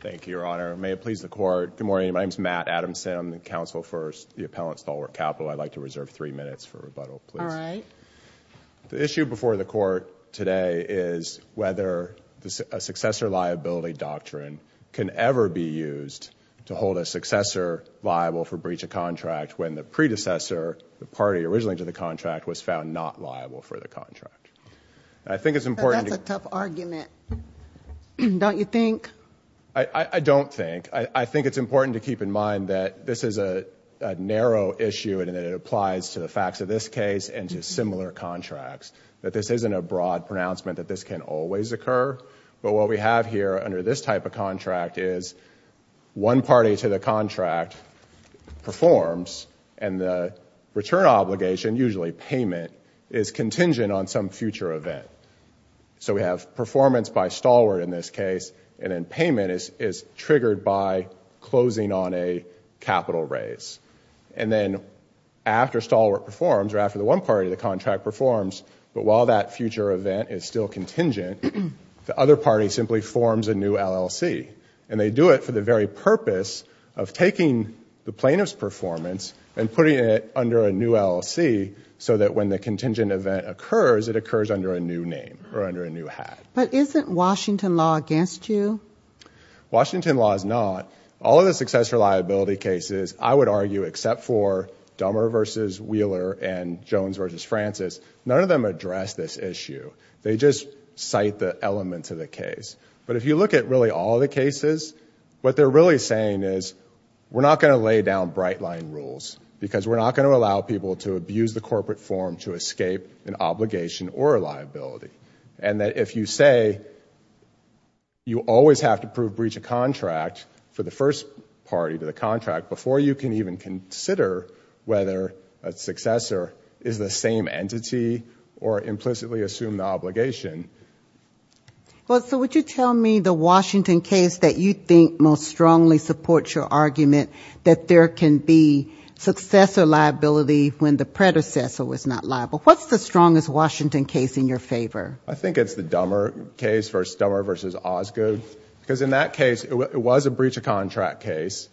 Thank you, Your Honor. May it please the Court. Good morning. My name is Matt Adamson. I'm the counsel for the appellant Stalwart Capital. I'd like to reserve three minutes for rebuttal, please. All right. The issue before the Court today is whether a successor liability doctrine can ever be used to hold a successor liable for breach of contract when the predecessor, the party originally to the contract, was found not liable for the contract. That's a tough argument. Don't you think? I don't think. I think it's important to keep in mind that this is a narrow issue and that it applies to the facts of this case and to similar contracts, that this isn't a broad pronouncement that this can always occur. But what we have here under this type of contract is one party to the contract performs, and the return obligation, usually payment, is contingent on some future event. So we have performance by Stalwart in this case, and then payment is triggered by closing on a capital raise. And then after Stalwart performs, or after the one party to the contract performs, but while that future event is still contingent, the other party simply forms a new LLC. And they do it for the very purpose of taking the plaintiff's performance and putting it under a new LLC so that when the contingent event occurs, it occurs under a new name or under a new hat. But isn't Washington law against you? Washington law is not. All of the successor liability cases, I would argue, except for Dummer v. Wheeler and Jones v. Francis, none of them address this issue. They just cite the elements of the case. But if you look at really all the cases, what they're really saying is, we're not going to lay down bright-line rules because we're not going to allow people to abuse the corporate form to escape an obligation or a liability. And that if you say you always have to prove breach of contract for the first party to the contract before you can even consider whether a successor is the same entity or implicitly assume the obligation. Well, so would you tell me the Washington case that you think most strongly supports your argument that there can be successor liability when the predecessor was not liable? What's the strongest Washington case in your favor? I think it's the Dummer case versus Dummer v. Osgood. Because in that case, it was a breach of contract case.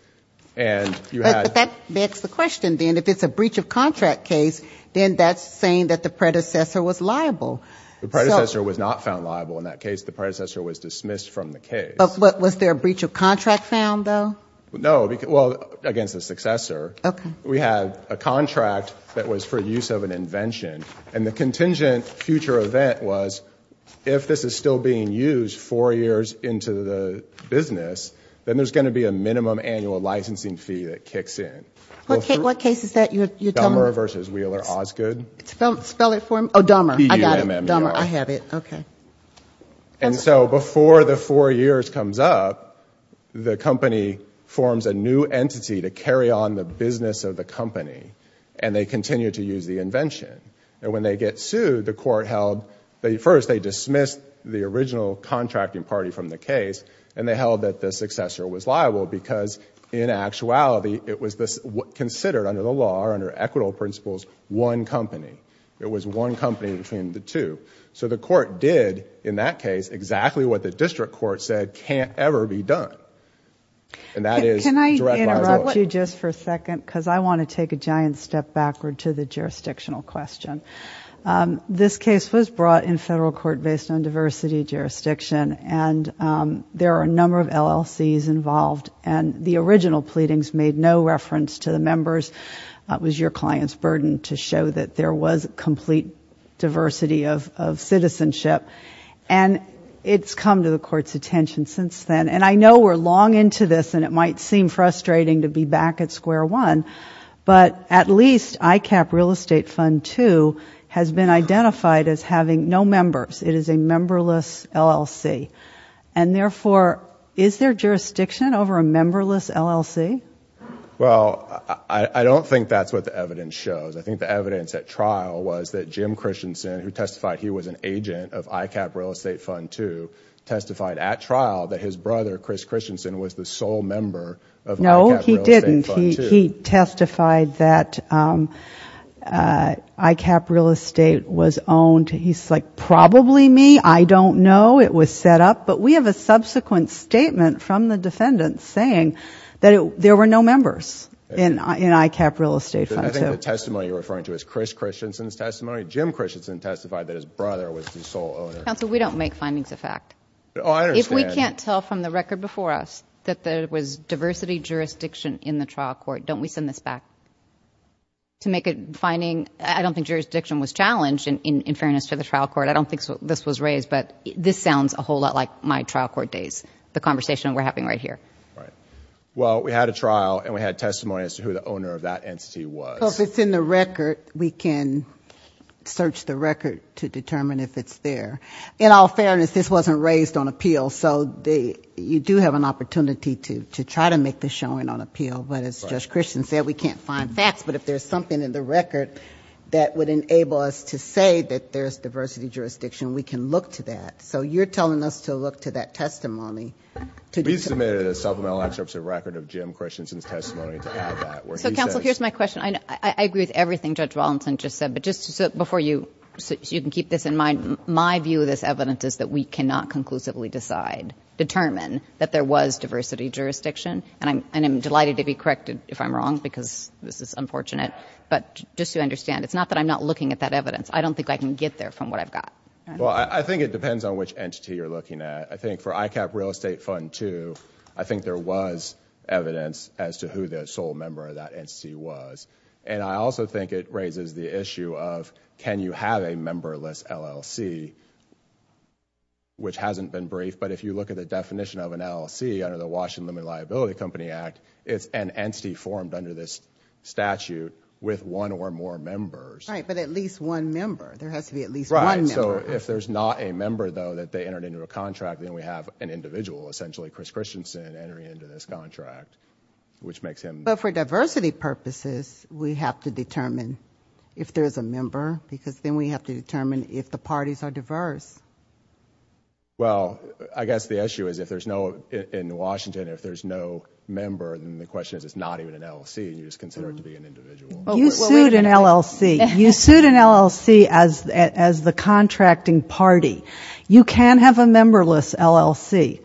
But that begs the question, then. If it's a breach of contract case, then that's saying that the predecessor was liable. The predecessor was not found liable in that case. The predecessor was dismissed from the case. But was there a breach of contract found, though? No. Well, against the successor. Okay. We had a contract that was for use of an invention. And the contingent future event was if this is still being used four years into the business, then there's going to be a minimum annual licensing fee that kicks in. What case is that you're telling me? Dummer v. Wheeler Osgood. Spell it for me. Oh, Dummer. I got it. Dummer. I have it. Okay. And so before the four years comes up, the company forms a new entity to carry on the business of the company. And they continue to use the invention. And when they get sued, the court held that at first they dismissed the original contracting party from the case. And they held that the successor was liable because, in actuality, it was considered under the law or under equitable principles, one company. It was one company between the two. So the court did, in that case, exactly what the district court said can't ever be done. And that is direct liability. Can I interrupt you just for a second? Because I want to take a giant step backward to the jurisdictional question. This case was brought in federal court based on diversity jurisdiction. And there are a number of LLCs involved. And the original pleadings made no reference to the members. It was your client's burden to show that there was complete diversity of citizenship. And it's come to the court's attention since then. And I know we're long into this, and it might seem frustrating to be back at square one. But at least ICAP Real Estate Fund II has been identified as having no members. It is a memberless LLC. And therefore, is there jurisdiction over a memberless LLC? Well, I don't think that's what the evidence shows. I think the evidence at trial was that Jim Christensen, who testified he was an agent of ICAP Real Estate Fund II, testified at trial that his brother, Chris Christensen, was the sole member of ICAP Real Estate Fund II. No, he didn't. He testified that ICAP Real Estate was owned. He's like, probably me. I don't know. It was set up. But we have a subsequent statement from the defendant saying that there were no members in ICAP Real Estate Fund II. I think the testimony you're referring to is Chris Christensen's testimony. Jim Christensen testified that his brother was the sole owner. Counsel, we don't make findings of fact. Oh, I understand. If we can't tell from the record before us that there was diversity jurisdiction in the trial court, don't we send this back to make a finding? I don't think jurisdiction was challenged, in fairness to the trial court. I don't think this was raised, but this sounds a whole lot like my trial court days, the conversation we're having right here. Right. Well, we had a trial, and we had testimony as to who the owner of that entity was. Well, if it's in the record, we can search the record to determine if it's there. In all fairness, this wasn't raised on appeal, so you do have an opportunity to try to make this showing on appeal. Well, but as Judge Christian said, we can't find facts. But if there's something in the record that would enable us to say that there's diversity jurisdiction, we can look to that. So you're telling us to look to that testimony? We submitted a supplemental excerpt to the record of Jim Christensen's testimony to add that. So, Counsel, here's my question. I agree with everything Judge Wallinson just said, but just before you, so you can keep this in mind, my view of this evidence is that we cannot conclusively decide, determine, that there was diversity jurisdiction. And I'm delighted to be corrected if I'm wrong, because this is unfortunate. But just to understand, it's not that I'm not looking at that evidence. I don't think I can get there from what I've got. Well, I think it depends on which entity you're looking at. I think for ICAP Real Estate Fund II, I think there was evidence as to who the sole member of that entity was. And I also think it raises the issue of can you have a memberless LLC, which hasn't been briefed. But if you look at the definition of an LLC under the Washington Limited Liability Company Act, it's an entity formed under this statute with one or more members. Right, but at least one member. There has to be at least one member. Right, so if there's not a member, though, that they entered into a contract, then we have an individual, essentially Chris Christensen, entering into this contract, which makes him... But for diversity purposes, we have to determine if there's a member, because then we have to determine if the parties are diverse. Well, I guess the issue is if there's no... In Washington, if there's no member, then the question is it's not even an LLC, and you just consider it to be an individual. You sued an LLC. You sued an LLC as the contracting party. You can't have a memberless LLC.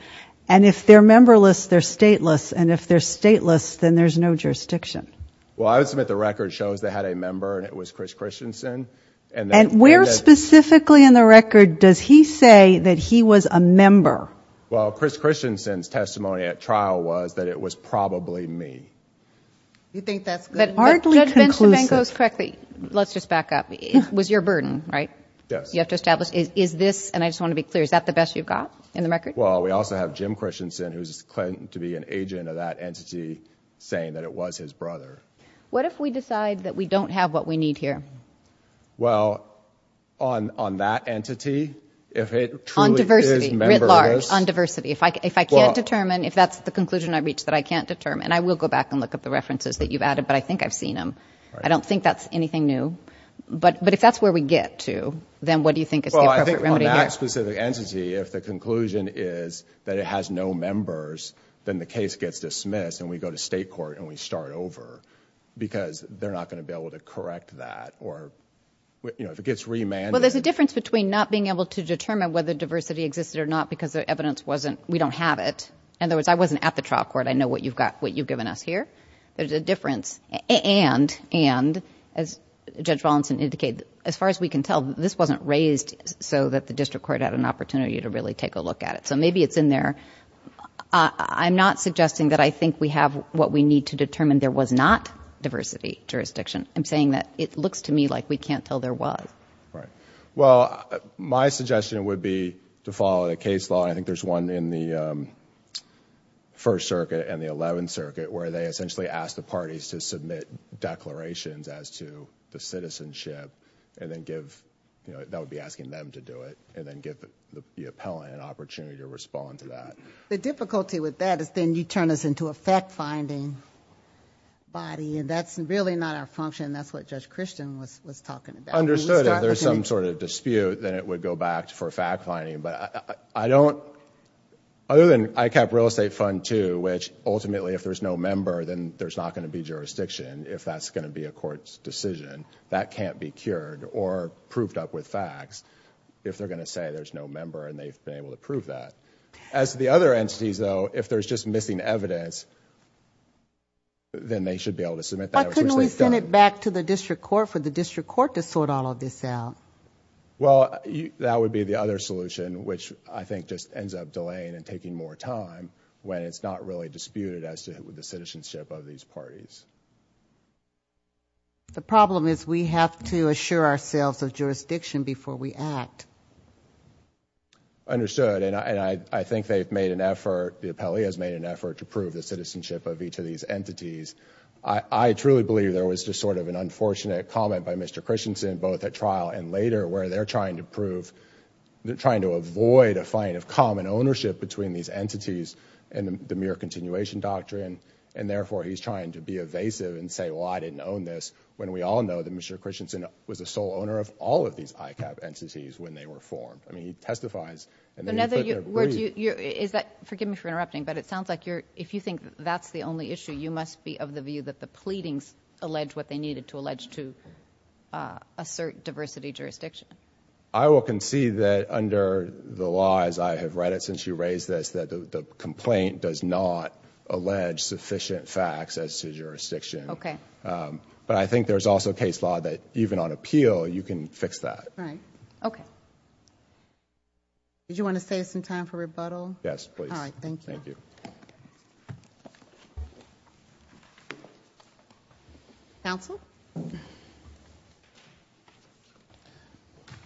And if they're memberless, they're stateless. And if they're stateless, then there's no jurisdiction. Well, I would submit the record shows they had a member, and it was Chris Christensen. And where specifically in the record does he say that he was a member? Well, Chris Christensen's testimony at trial was that it was probably me. You think that's good enough? That's hardly conclusive. Judge Benjamin goes correctly. Let's just back up. It was your burden, right? Yes. You have to establish, is this, and I just want to be clear, is that the best you've got in the record? Well, we also have Jim Christensen, who's claimed to be an agent of that entity, saying that it was his brother. What if we decide that we don't have what we need here? Well, on that entity, if it truly is memberless. On diversity, writ large, on diversity. If I can't determine, if that's the conclusion I've reached that I can't determine, I will go back and look up the references that you've added, but I think I've seen them. I don't think that's anything new. But if that's where we get to, then what do you think is the appropriate remedy here? Well, I think on that specific entity, if the conclusion is that it has no members, then the case gets dismissed, and we go to state court, and we start over, because they're not going to be able to correct that, or if it gets remanded. Well, there's a difference between not being able to determine whether diversity existed or not because the evidence wasn't, we don't have it. In other words, I wasn't at the trial court. I know what you've given us here. There's a difference, and, as Judge Wallinson indicated, as far as we can tell, this wasn't raised so that the district court had an opportunity to really take a look at it. So maybe it's in there. I'm not suggesting that I think we have what we need to determine there was not diversity jurisdiction. I'm saying that it looks to me like we can't tell there was. Well, my suggestion would be to follow the case law, and I think there's one in the First Circuit and the Eleventh Circuit where they essentially ask the parties to submit declarations as to the citizenship, and that would be asking them to do it, and then give the appellant an opportunity to respond to that. The difficulty with that is then you turn us into a fact-finding body, and that's really not our function, and that's what Judge Christian was talking about. Understood. If there's some sort of dispute, then it would go back for fact-finding, but other than ICAP Real Estate Fund II, which ultimately, if there's no member, then there's not going to be jurisdiction if that's going to be a court's decision. That can't be cured or proved up with facts if they're going to say there's no member, and they've been able to prove that. As to the other entities, though, if there's just missing evidence, then they should be able to submit that. Why couldn't we send it back to the district court for the district court to sort all of this out? Well, that would be the other solution, which I think just ends up delaying and taking more time when it's not really disputed as to the citizenship of these parties. The problem is we have to assure ourselves of jurisdiction before we act. Understood, and I think they've made an effort, the appellee has made an effort to prove the citizenship of each of these entities. I truly believe there was just sort of an unfortunate comment by Mr. Christensen, both at trial and later, where they're trying to prove, they're trying to avoid a fight of common ownership between these entities and the mere continuation doctrine, and therefore he's trying to be evasive and say, well, I didn't own this, when we all know that Mr. Christensen was the sole owner of all of these ICAP entities when they were formed. I mean, he testifies, and then he put their brief. Forgive me for interrupting, but it sounds like if you think that's the only issue, you must be of the view that the pleadings allege what they needed to allege to assert diversity jurisdiction. I will concede that under the law, as I have read it since you raised this, that the complaint does not allege sufficient facts as to jurisdiction. Okay. But I think there's also case law that even on appeal, you can fix that. Right. Okay. Did you want to save some time for rebuttal? Yes, please. All right, thank you. Thank you. Counsel?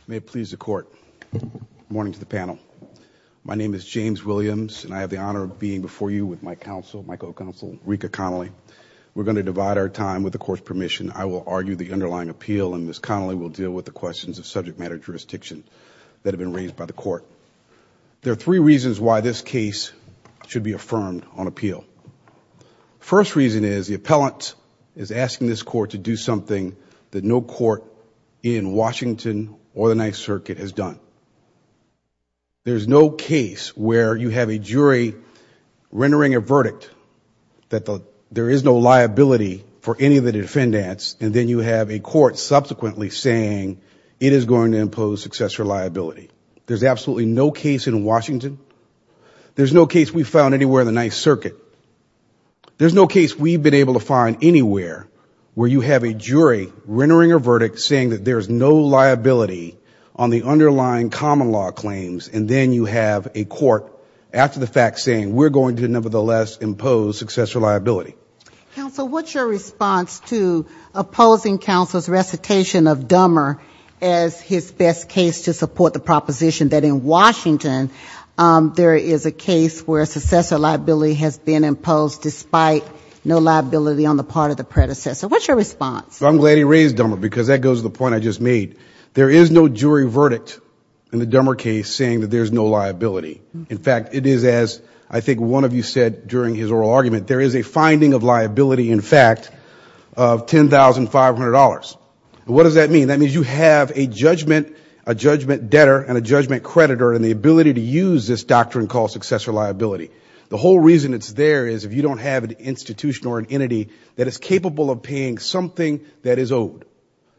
May it please the Court. Good morning to the panel. My name is James Williams, and I have the honor of being before you with my counsel, my co-counsel, Rika Connolly. We're going to divide our time. With the Court's permission, I will argue the underlying appeal, and Ms. Connolly will deal with the questions of subject matter jurisdiction that have been raised by the Court. There are three reasons why this case should be affirmed on appeal. First reason is the appellant is asking this Court to do something that no court in Washington or the Ninth Circuit has done. There's no case where you have a jury rendering a verdict that there is no liability for any of the defendants, and then you have a court subsequently saying it is going to impose successor liability. There's absolutely no case in Washington. There's no case we've found anywhere in the Ninth Circuit. There's no case we've been able to find anywhere where you have a jury rendering a verdict saying that there is no liability on the underlying common law claims, and then you have a court after the fact saying we're going to nevertheless impose successor liability. Counsel, what's your response to opposing counsel's recitation of Dummer as his best case to support the proposition that in Washington, there is a case where successor liability has been imposed despite no liability on the part of the predecessor? What's your response? I'm glad he raised Dummer, because that goes to the point I just made. There is no jury verdict in the Dummer case saying that there's no liability. In fact, it is as I think one of you said during his oral argument, there is a finding of liability in fact of $10,500. That's what this doctrine calls successor liability. The whole reason it's there is if you don't have an institution or an entity that is capable of paying something that is owed,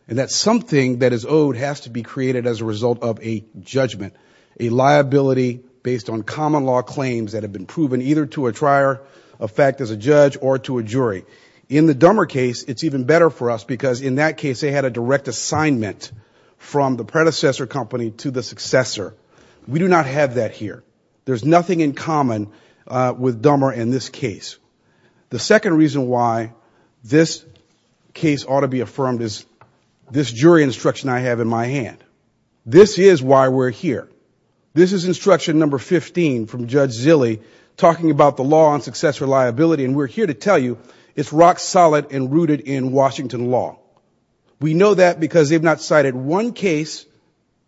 and that something that is owed has to be created as a result of a judgment, a liability based on common law claims that have been proven either to a trier of fact as a judge or to a jury. In the Dummer case, it's even better for us because in that case, they had a direct assignment from the predecessor company to the successor. We do not have that here. There's nothing in common with Dummer in this case. The second reason why this case ought to be affirmed is this jury instruction I have in my hand. This is why we're here. This is instruction number 15 from Judge Zille talking about the law on successor liability, and we're here to tell you it's rock solid and rooted in Washington law. We know that because they've not cited one case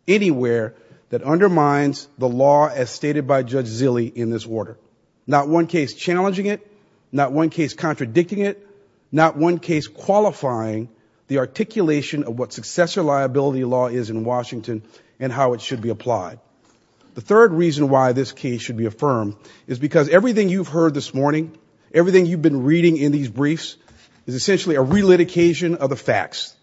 anywhere that undermines the law as stated by Judge Zille in this order. Not one case challenging it, not one case contradicting it, not one case qualifying the articulation of what successor liability law is in Washington and how it should be applied. The third reason why this case should be affirmed is because everything you've heard this morning, everything you've been reading in these briefs is essentially a relitigation of the facts.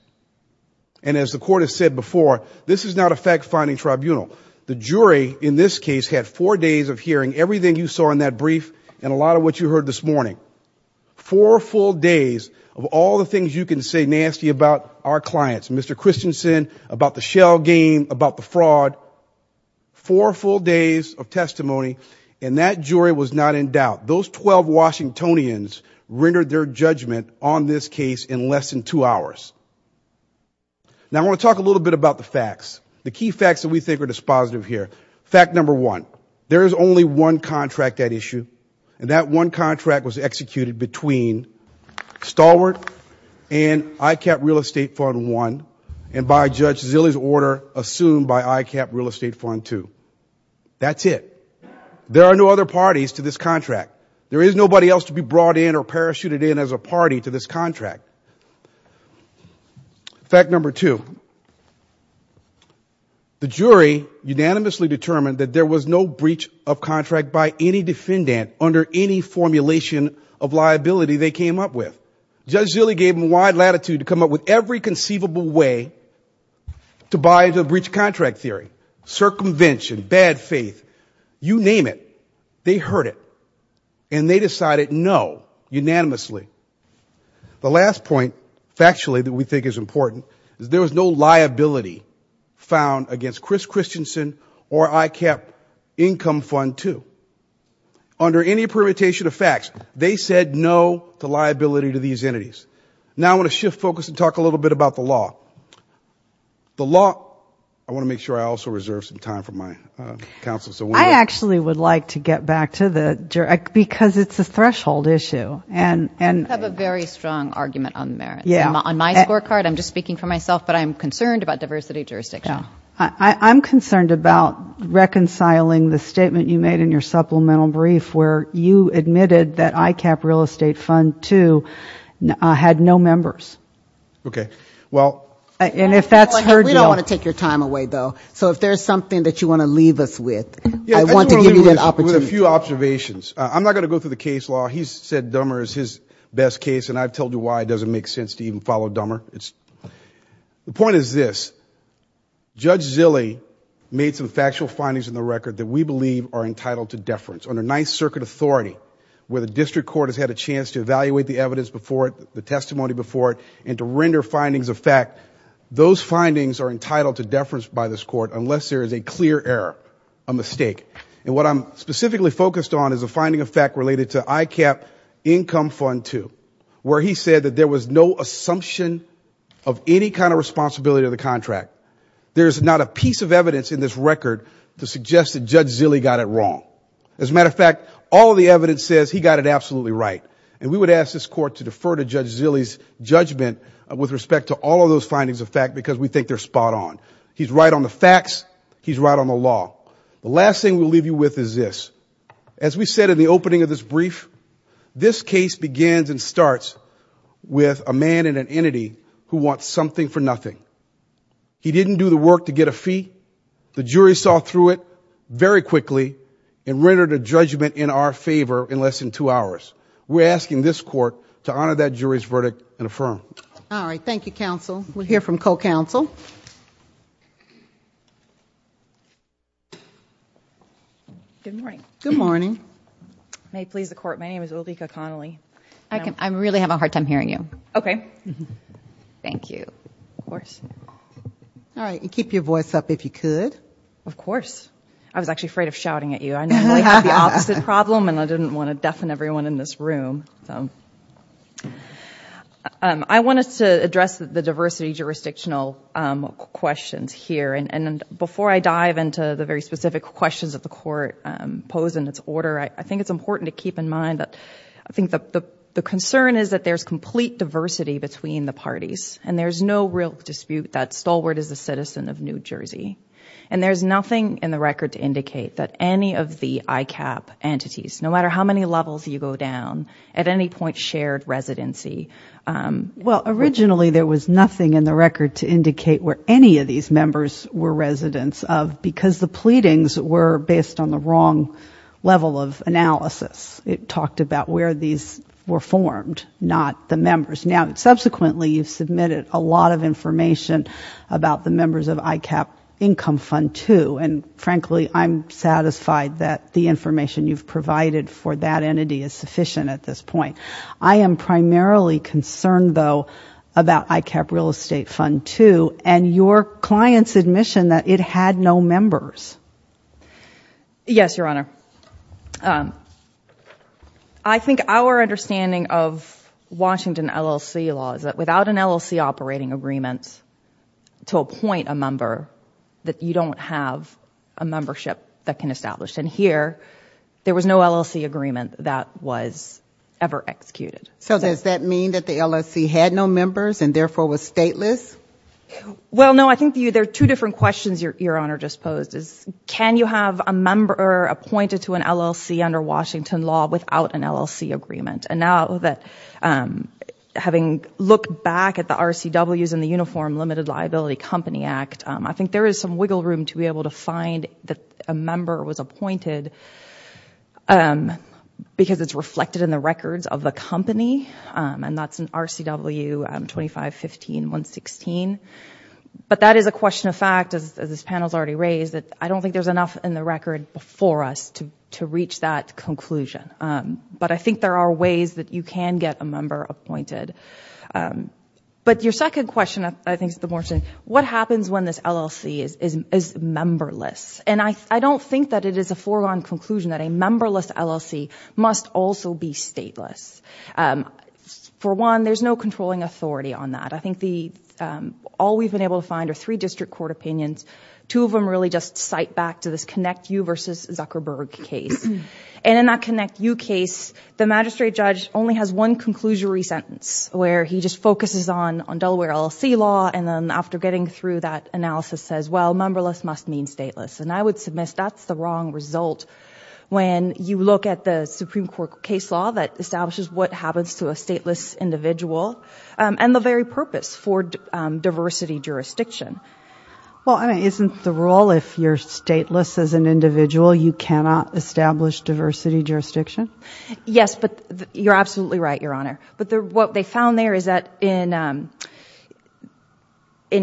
And as the Court has said before, this is not a fact-finding tribunal. The jury in this case had four days of hearing everything you saw in that brief and a lot of what you heard this morning. Four full days of all the things you can say nasty about our clients, Mr. Christensen, about the shell game, about the fraud. Four full days of testimony, and that jury was not in doubt. Those 12 Washingtonians rendered their judgment on this case in less than two hours. Now I want to talk a little bit about the facts, the key facts that we think are dispositive here. Fact number one, there is only one contract at issue, and that one contract was executed between Stalwart and ICAP Real Estate Fund I and by Judge Zille's order assumed by ICAP Real Estate Fund II. That's it. There are no other parties to this contract. There is nobody else to be brought in or parachuted in as a party to this contract. Fact number two, the jury unanimously determined that there was no breach of contract by any defendant under any formulation of liability they came up with. Judge Zille gave them wide latitude to come up with every conceivable way to buy into a breach of contract theory, circumvention, bad faith, you name it. They heard it, and they decided no unanimously. The last point factually that we think is important is there was no liability found against Chris Christensen or ICAP Income Fund II. Under any permutation of facts, they said no to liability to these entities. Now I want to shift focus and talk a little bit about the law. I want to make sure I also reserve some time for my counsel. I actually would like to get back to the jury because it's a threshold issue. You have a very strong argument on the merits. On my scorecard, I'm just speaking for myself, but I'm concerned about diversity of jurisdiction. I'm concerned about reconciling the statement you made in your supplemental brief where you admitted that ICAP Real Estate Fund II had no members. We don't want to take your time away, though, so if there's something that you want to leave us with, I want to give you that opportunity. I just want to leave you with a few observations. I'm not going to go through the case law. He's said Dummer is his best case, and I've told you why it doesn't make sense to even follow Dummer. The point is this. Judge Zille made some factual findings in the record that we believe are entitled to deference. Under Ninth Circuit authority, where the district court has had a chance to evaluate the evidence before it, the testimony before it, and to render findings of fact, those findings are entitled to deference by this court, unless there is a clear error, a mistake. And what I'm specifically focused on is a finding of fact related to ICAP Income Fund II, where he said that there was no assumption of any kind of responsibility of the contract. There is not a piece of evidence in this record to suggest that Judge Zille got it wrong. As a matter of fact, all of the evidence says he got it absolutely right. And we would ask this court to defer to Judge Zille's judgment with respect to all of those findings of fact because we think they're spot on. He's right on the facts. He's right on the law. The last thing we'll leave you with is this. As we said in the opening of this brief, this case begins and starts with a man and an entity who want something for nothing. He didn't do the work to get a fee. The jury saw through it very quickly and rendered a judgment in our favor in less than two hours. We're asking this court to honor that jury's verdict and affirm. All right. Thank you, counsel. We'll hear from co-counsel. Good morning. I really have a hard time hearing you. All right. And keep your voice up if you could. I was actually afraid of shouting at you. I normally have the opposite problem and I didn't want to deafen everyone in this room. I wanted to address the diversity jurisdictional questions here. And before I dive into the very specific questions that the court posed in its order, I think it's important to keep in mind that I think the concern is that there's complete diversity between the parties. And there's no real dispute that Stalwart is a citizen of New Jersey. And there's nothing in the record to indicate that any of the ICAP entities, no matter how many levels you go down, at any point shared residency. Well, originally there was nothing in the record to indicate where any of these members were residents of, because the pleadings were based on the wrong level of analysis. It talked about where these were formed, not the members. Now, subsequently you've submitted a lot of information about the members of ICAP income fund, too. And frankly, I'm satisfied that the information you've provided for that entity is sufficient at this point. I am primarily concerned, though, about ICAP real estate fund, too, and your client's admission that it had no members. Yes, Your Honor. I think our understanding of Washington LLC law is that without an LLC operating agreement to appoint a member, that you don't have a membership that can establish. And here, there was no LLC agreement that was ever executed. So does that mean that the LLC had no members and therefore was stateless? Well, no, I think there are two different questions Your Honor just posed. Can you have a member appointed to an LLC under Washington law without an LLC agreement? And now that having looked back at the RCWs and the Uniform Limited Liability Company Act, I think there is some wiggle room to be able to find that a member was appointed because it's reflected in the records of the company, and that's in RCW 2515.116. But that is a question of fact, as this panel has already raised, that I don't think there's enough in the record before us to reach that conclusion. But I think there are ways that you can get a member appointed. But your second question, I think, is the more interesting. What happens when this LLC is memberless? And I don't think that it is a foregone conclusion that a memberless LLC must also be stateless. For one, there's no controlling authority on that. I think all we've been able to find are three district court opinions. Two of them really just cite back to this ConnectU v. Zuckerberg case. And in that ConnectU case, the magistrate judge only has one conclusionary sentence, where he just focuses on Delaware LLC law, and then after getting through that analysis says, well, memberless must mean stateless. And I would submit that's the wrong result when you look at the Supreme Court case law that establishes what happens to a stateless individual and the very purpose for diversity jurisdiction. Well, isn't the rule, if you're stateless as an individual, you cannot establish diversity jurisdiction? Yes, but you're absolutely right, Your Honor. But what they found there is that in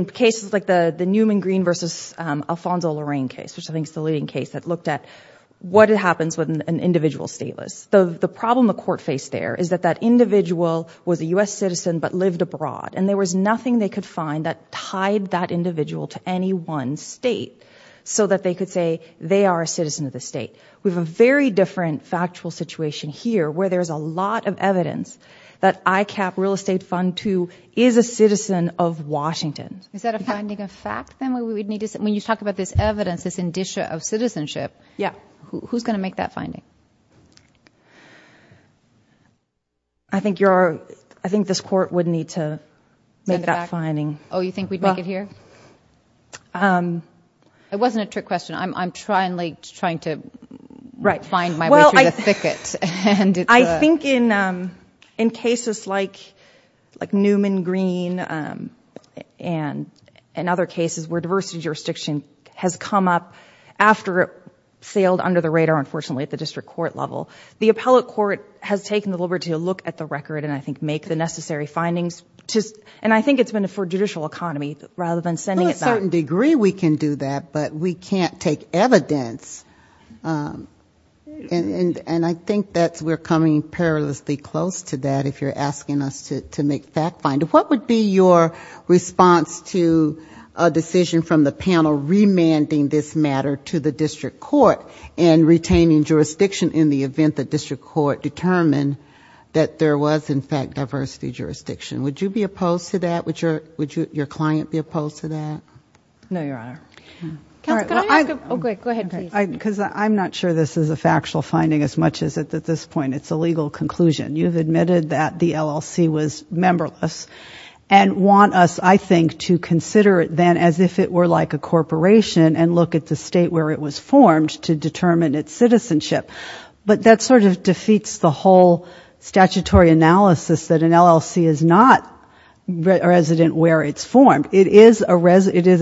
cases like the Newman Green v. Alfonso Lorraine case, which I think is the leading case that looked at what happens when an individual is stateless. The problem the court faced there is that that individual was a U.S. citizen but lived abroad, and there was nothing they could find that tied that individual to any one state so that they could say they are a citizen of the state. We have a very different factual situation here where there's a lot of evidence that ICAP, Real Estate Fund II, is a citizen of Washington. Is that a finding of fact, then, when you talk about this evidence, this indicia of citizenship? Yeah. Who's going to make that finding? I think this court would need to make that finding. Oh, you think we'd make it here? It wasn't a trick question. I'm trying to find my way through the thicket. I think in cases like Newman Green and other cases where diversity jurisdiction has come up after it sailed under the radar, unfortunately, at the district court level, the appellate court has taken the liberty to look at the record and I think make the necessary findings. I think it's been for judicial economy rather than sending it back. To a certain degree we can do that, but we can't take evidence. And I think we're coming perilously close to that if you're asking us to make fact finding. What would be your response to a decision from the panel remanding this matter to the district court and retaining jurisdiction in the event the district court determined that there was, in fact, diversity jurisdiction? Would you be opposed to that? No, Your Honor. I'm not sure this is a factual finding as much as at this point it's a legal conclusion. You've admitted that the LLC was memberless and want us, I think, to consider it then as if it were like a corporation and look at the state where it was formed to determine its citizenship. But that sort of defeats the whole statutory analysis that an LLC is not resident where it's formed. It is a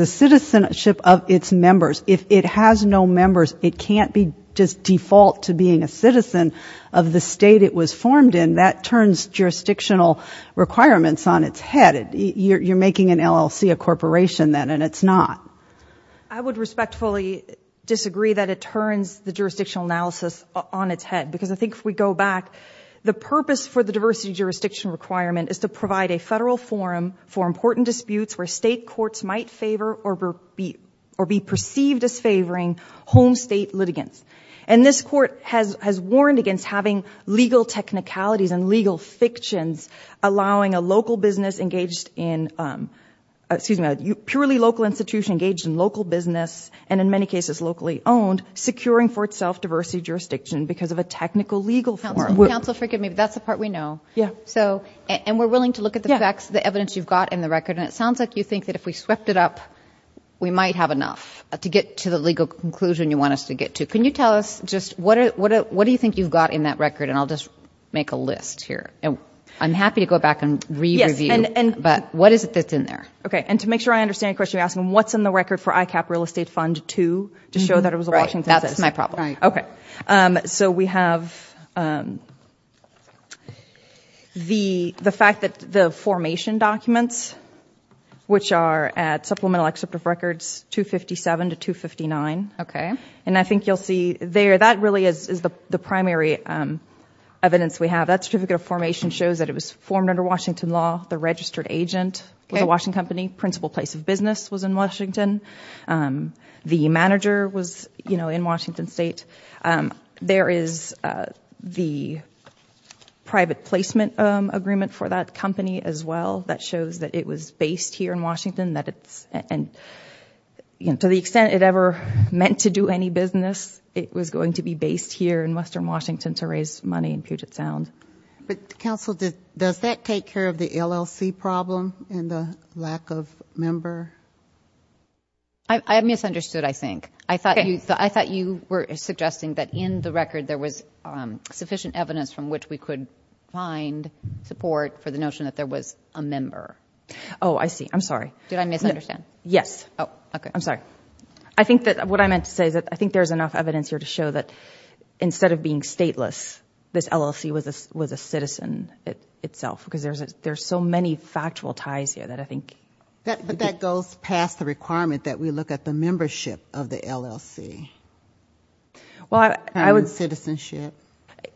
citizenship of its members. If it has no members, it can't be just default to being a citizen of the state it was formed in. That turns jurisdictional requirements on its head. You're making an LLC a corporation then and it's not. I would respectfully disagree that it turns the jurisdictional analysis on its head because I think if we go back, the purpose for the diversity jurisdiction requirement is to provide a federal forum for important disputes where state courts might favor or be perceived as favoring home state litigants. And this court has warned against having legal technicalities and legal fictions allowing a purely local institution engaged in local business and in many cases locally owned, securing for itself diversity jurisdiction because of a technical legal forum. Counsel, forgive me, but that's the part we know. And we're willing to look at the facts, the evidence you've got in the record. And it sounds like you think that if we swept it up, we might have enough to get to the legal conclusion you want us to get to. Can you tell us just what do you think you've got in that record? And I'll just make a list here. I'm happy to go back and re-review, but what is it that's in there? Okay, and to make sure I understand your question, you're asking what's in the record for ICAP real estate fund two to show that it was a Washington citizen. That's my problem. Okay, so we have the fact that the formation documents, which are at Supplemental Excerpt of Records 257 to 259. And I think you'll see there that really is the primary evidence we have. That certificate of formation shows that it was formed under Washington law. The registered agent was a Washington company. The principal place of business was in Washington. The manager was in Washington state. There is the private placement agreement for that company as well that shows that it was based here in Washington. And to the extent it ever meant to do any business, it was going to be based here in western Washington to raise money in Puget Sound. But counsel, does that take care of the LLC problem and the lack of member? I misunderstood, I think. I thought you were suggesting that in the record there was sufficient evidence from which we could find support for the notion that there was a member. Did I misunderstand? Yes. I'm sorry. I think there's enough evidence here to show that instead of being stateless, this LLC was a citizen itself. Because there's so many factual ties here that I think... But that goes past the requirement that we look at the membership of the LLC. And the citizenship.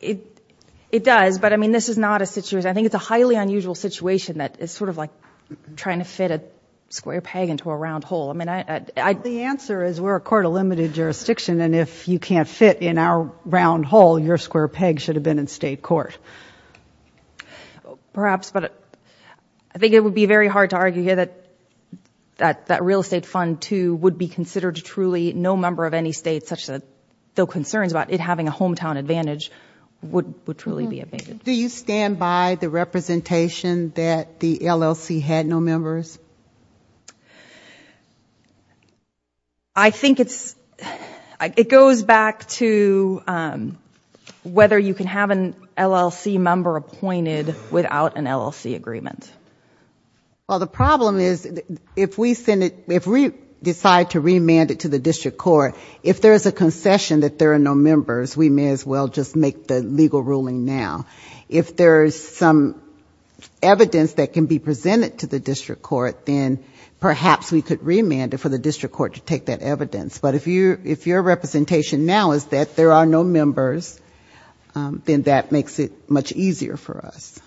It does, but I mean this is not a situation, I think it's a highly unusual situation that is sort of like trying to fit a square peg into a round hole. The answer is we're a court of limited jurisdiction and if you can't fit in our round hole, your square peg should have been in state court. Perhaps, but I think it would be very hard to argue here that that real estate fund, too, would be considered truly no member of any state because the concerns about it having a hometown advantage would truly be evaded. Do you stand by the representation that the LLC had no members? I think it goes back to whether you can have an LLC member appointed without an LLC agreement. Well, the problem is if we decide to remand it to the district court, if there's a concession that there are no members, we may as well just make the legal ruling now. If there's some evidence that can be presented to the district court, then perhaps we could remand it for the district court to take that evidence. But if your representation now is that there are no members, then that makes it much easier for us.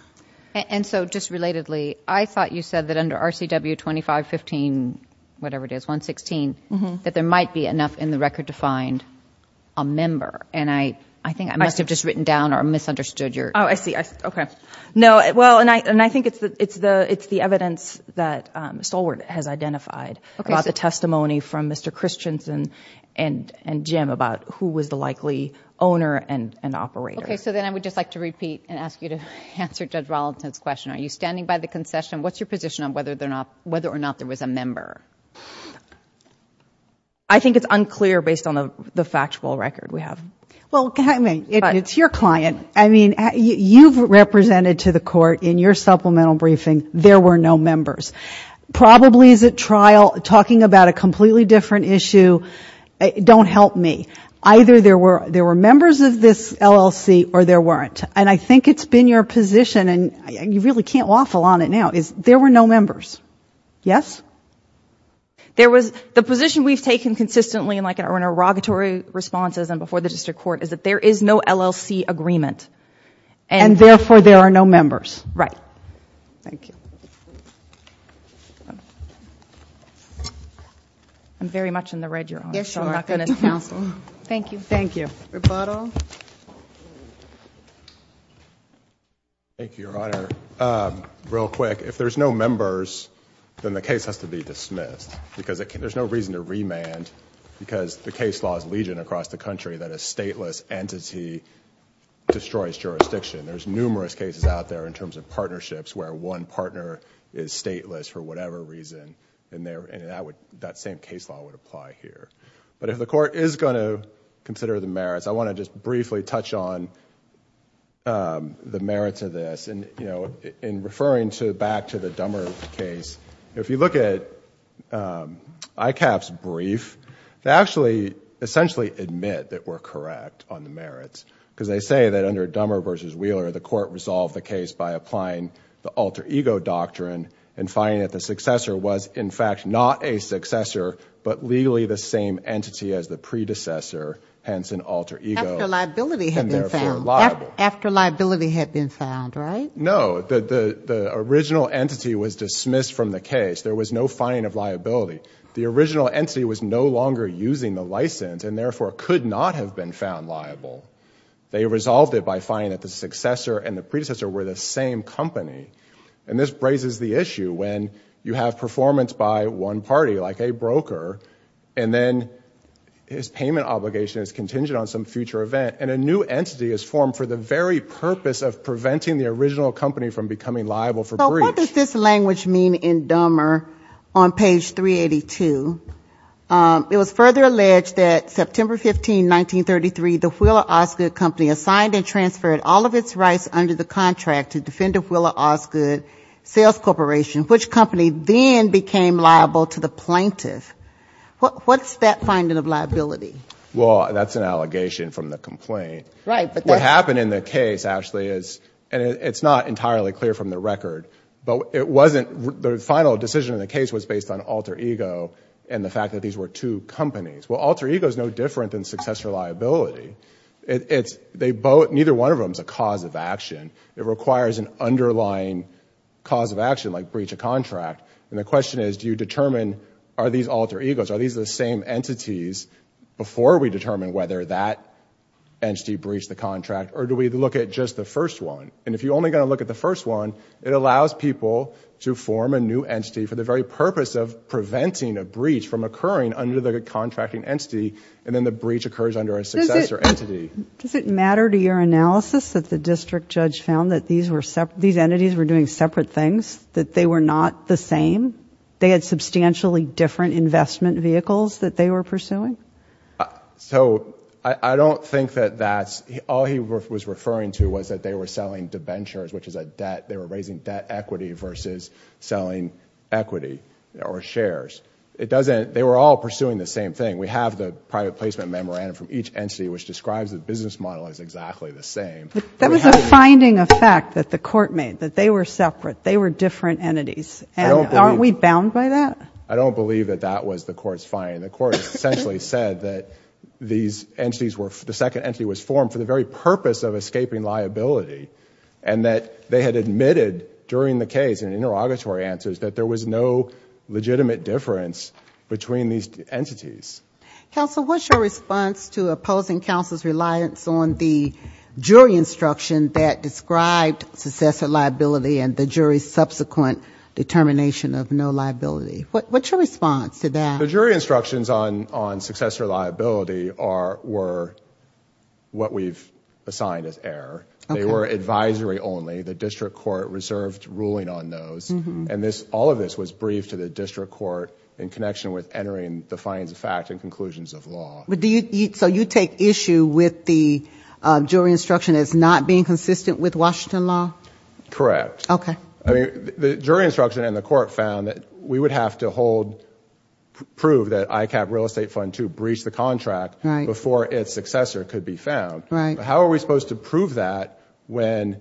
And so just relatedly, I thought you said that under RCW 2515, whatever it is, 116, that there might be enough in the record to find a member. And I think I must have just written down or misunderstood your... Oh, I see. Okay. No, well, and I think it's the evidence that Stalwart has identified about the testimony from Mr. Christensen and Jim about who was the likely owner and operator. Okay, so then I would just like to repeat and ask you to answer Judge Rollinson's question. Are you standing by the concession? What's your position on whether or not there was a member? I think it's unclear based on the factual record we have. Well, I mean, it's your client. I mean, you've represented to the court in your supplemental briefing there were no members. Probably is at trial talking about a completely different issue. Don't help me. Either there were members of this LLC or there weren't. And I think it's been your position, and you really can't waffle on it now, is there were no members. Yes? The position we've taken consistently in our inauguratory responses and before the district court is that there is no LLC agreement. And therefore there are no members. Right. Thank you. I'm very much in the red, Your Honor. Thank you. Thank you, Your Honor. Your Honor, real quick, if there's no members, then the case has to be dismissed. Because there's no reason to remand because the case law is legion across the country that a stateless entity destroys jurisdiction. There's numerous cases out there in terms of partnerships where one partner is stateless for whatever reason. And that same case law would apply here. But if the court is going to consider the merits, I want to just briefly touch on the merits of this. You know, in referring back to the Dummer case, if you look at ICAP's brief, they actually essentially admit that we're correct on the merits. Because they say that under Dummer v. Wheeler, the court resolved the case by applying the alter ego doctrine and finding that the successor was, in fact, not a successor, but legally the same entity as the predecessor, hence an alter ego, and therefore liable. After liability had been found, right? No. The original entity was dismissed from the case. There was no finding of liability. The original entity was no longer using the license and therefore could not have been found liable. They resolved it by finding that the successor and the predecessor were the same company. And this raises the issue when you have performance by one party, like a broker, and then his payment obligation is contingent on some future event, and a new entity is formed for the very purpose of preventing the original company from becoming liable for breach. So what does this language mean in Dummer on page 382? It was further alleged that September 15, 1933, the Wheeler Osgood Company assigned and transferred all of its rights under the contract to defend the Wheeler Osgood Sales Corporation, which company then became liable to the plaintiff. What's that finding of liability? Well, that's an allegation from the complaint. What happened in the case, actually, is, and it's not entirely clear from the record, but it wasn't, the final decision in the case was based on alter ego and the fact that these were two companies. Well, alter ego is no different than successor liability. Neither one of them is a cause of action. It requires an underlying cause of action, like breach of contract. And the question is, do you determine, are these alter egos, are these the same entities, before we determine whether that entity breached the contract, or do we look at just the first one? And if you're only going to look at the first one, it allows people to form a new entity for the very purpose of preventing a breach from occurring under the contracting entity, and then the breach occurs under a successor entity. Does it matter to your analysis that the district judge found that these entities were doing separate things, that they were not the same, they had substantially different investment vehicles that they were pursuing? So I don't think that that's, all he was referring to was that they were selling debentures, which is a debt, they were raising debt equity versus selling equity or shares. It doesn't, they were all pursuing the same thing. We have the private placement memorandum from each entity, which describes the business model as exactly the same. That was a finding of fact that the court made, that they were separate, they were different entities. And aren't we bound by that? I don't believe that that was the court's finding. The court essentially said that these entities were, the second entity was formed for the very purpose of escaping liability, and that they had admitted during the case, in interrogatory answers, that there was no legitimate difference between these entities. Counsel, what's your response to opposing counsel's reliance on the jury instruction that described successor liability and the jury's subsequent determination of no liability? What's your response to that? The jury instructions on successor liability were what we've assigned as error. They were advisory only. The district court reserved ruling on those. And all of this was briefed to the district court in connection with entering the findings of fact and conclusions of law. But do you, so you take issue with the jury instruction as not being consistent with Washington law? Correct. Okay. I mean, the jury instruction and the court found that we would have to hold, prove that ICAP real estate fund two breached the contract before its successor could be found. Right. How are we supposed to prove that when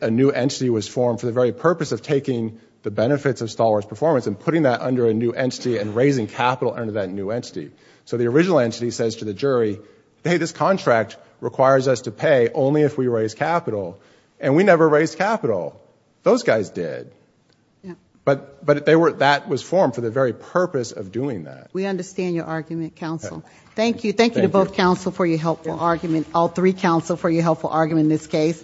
a new entity was formed for the very purpose of taking the benefits of Stalwart's performance and putting that under a new entity and raising capital under that new entity? So the original entity says to the jury, hey, this contract requires us to pay only if we raise capital, and we never raised capital. Those guys did. But that was formed for the very purpose of doing that. We understand your argument, counsel. Thank you. Thank you to both counsel for your helpful argument, all three counsel for your helpful argument in this case.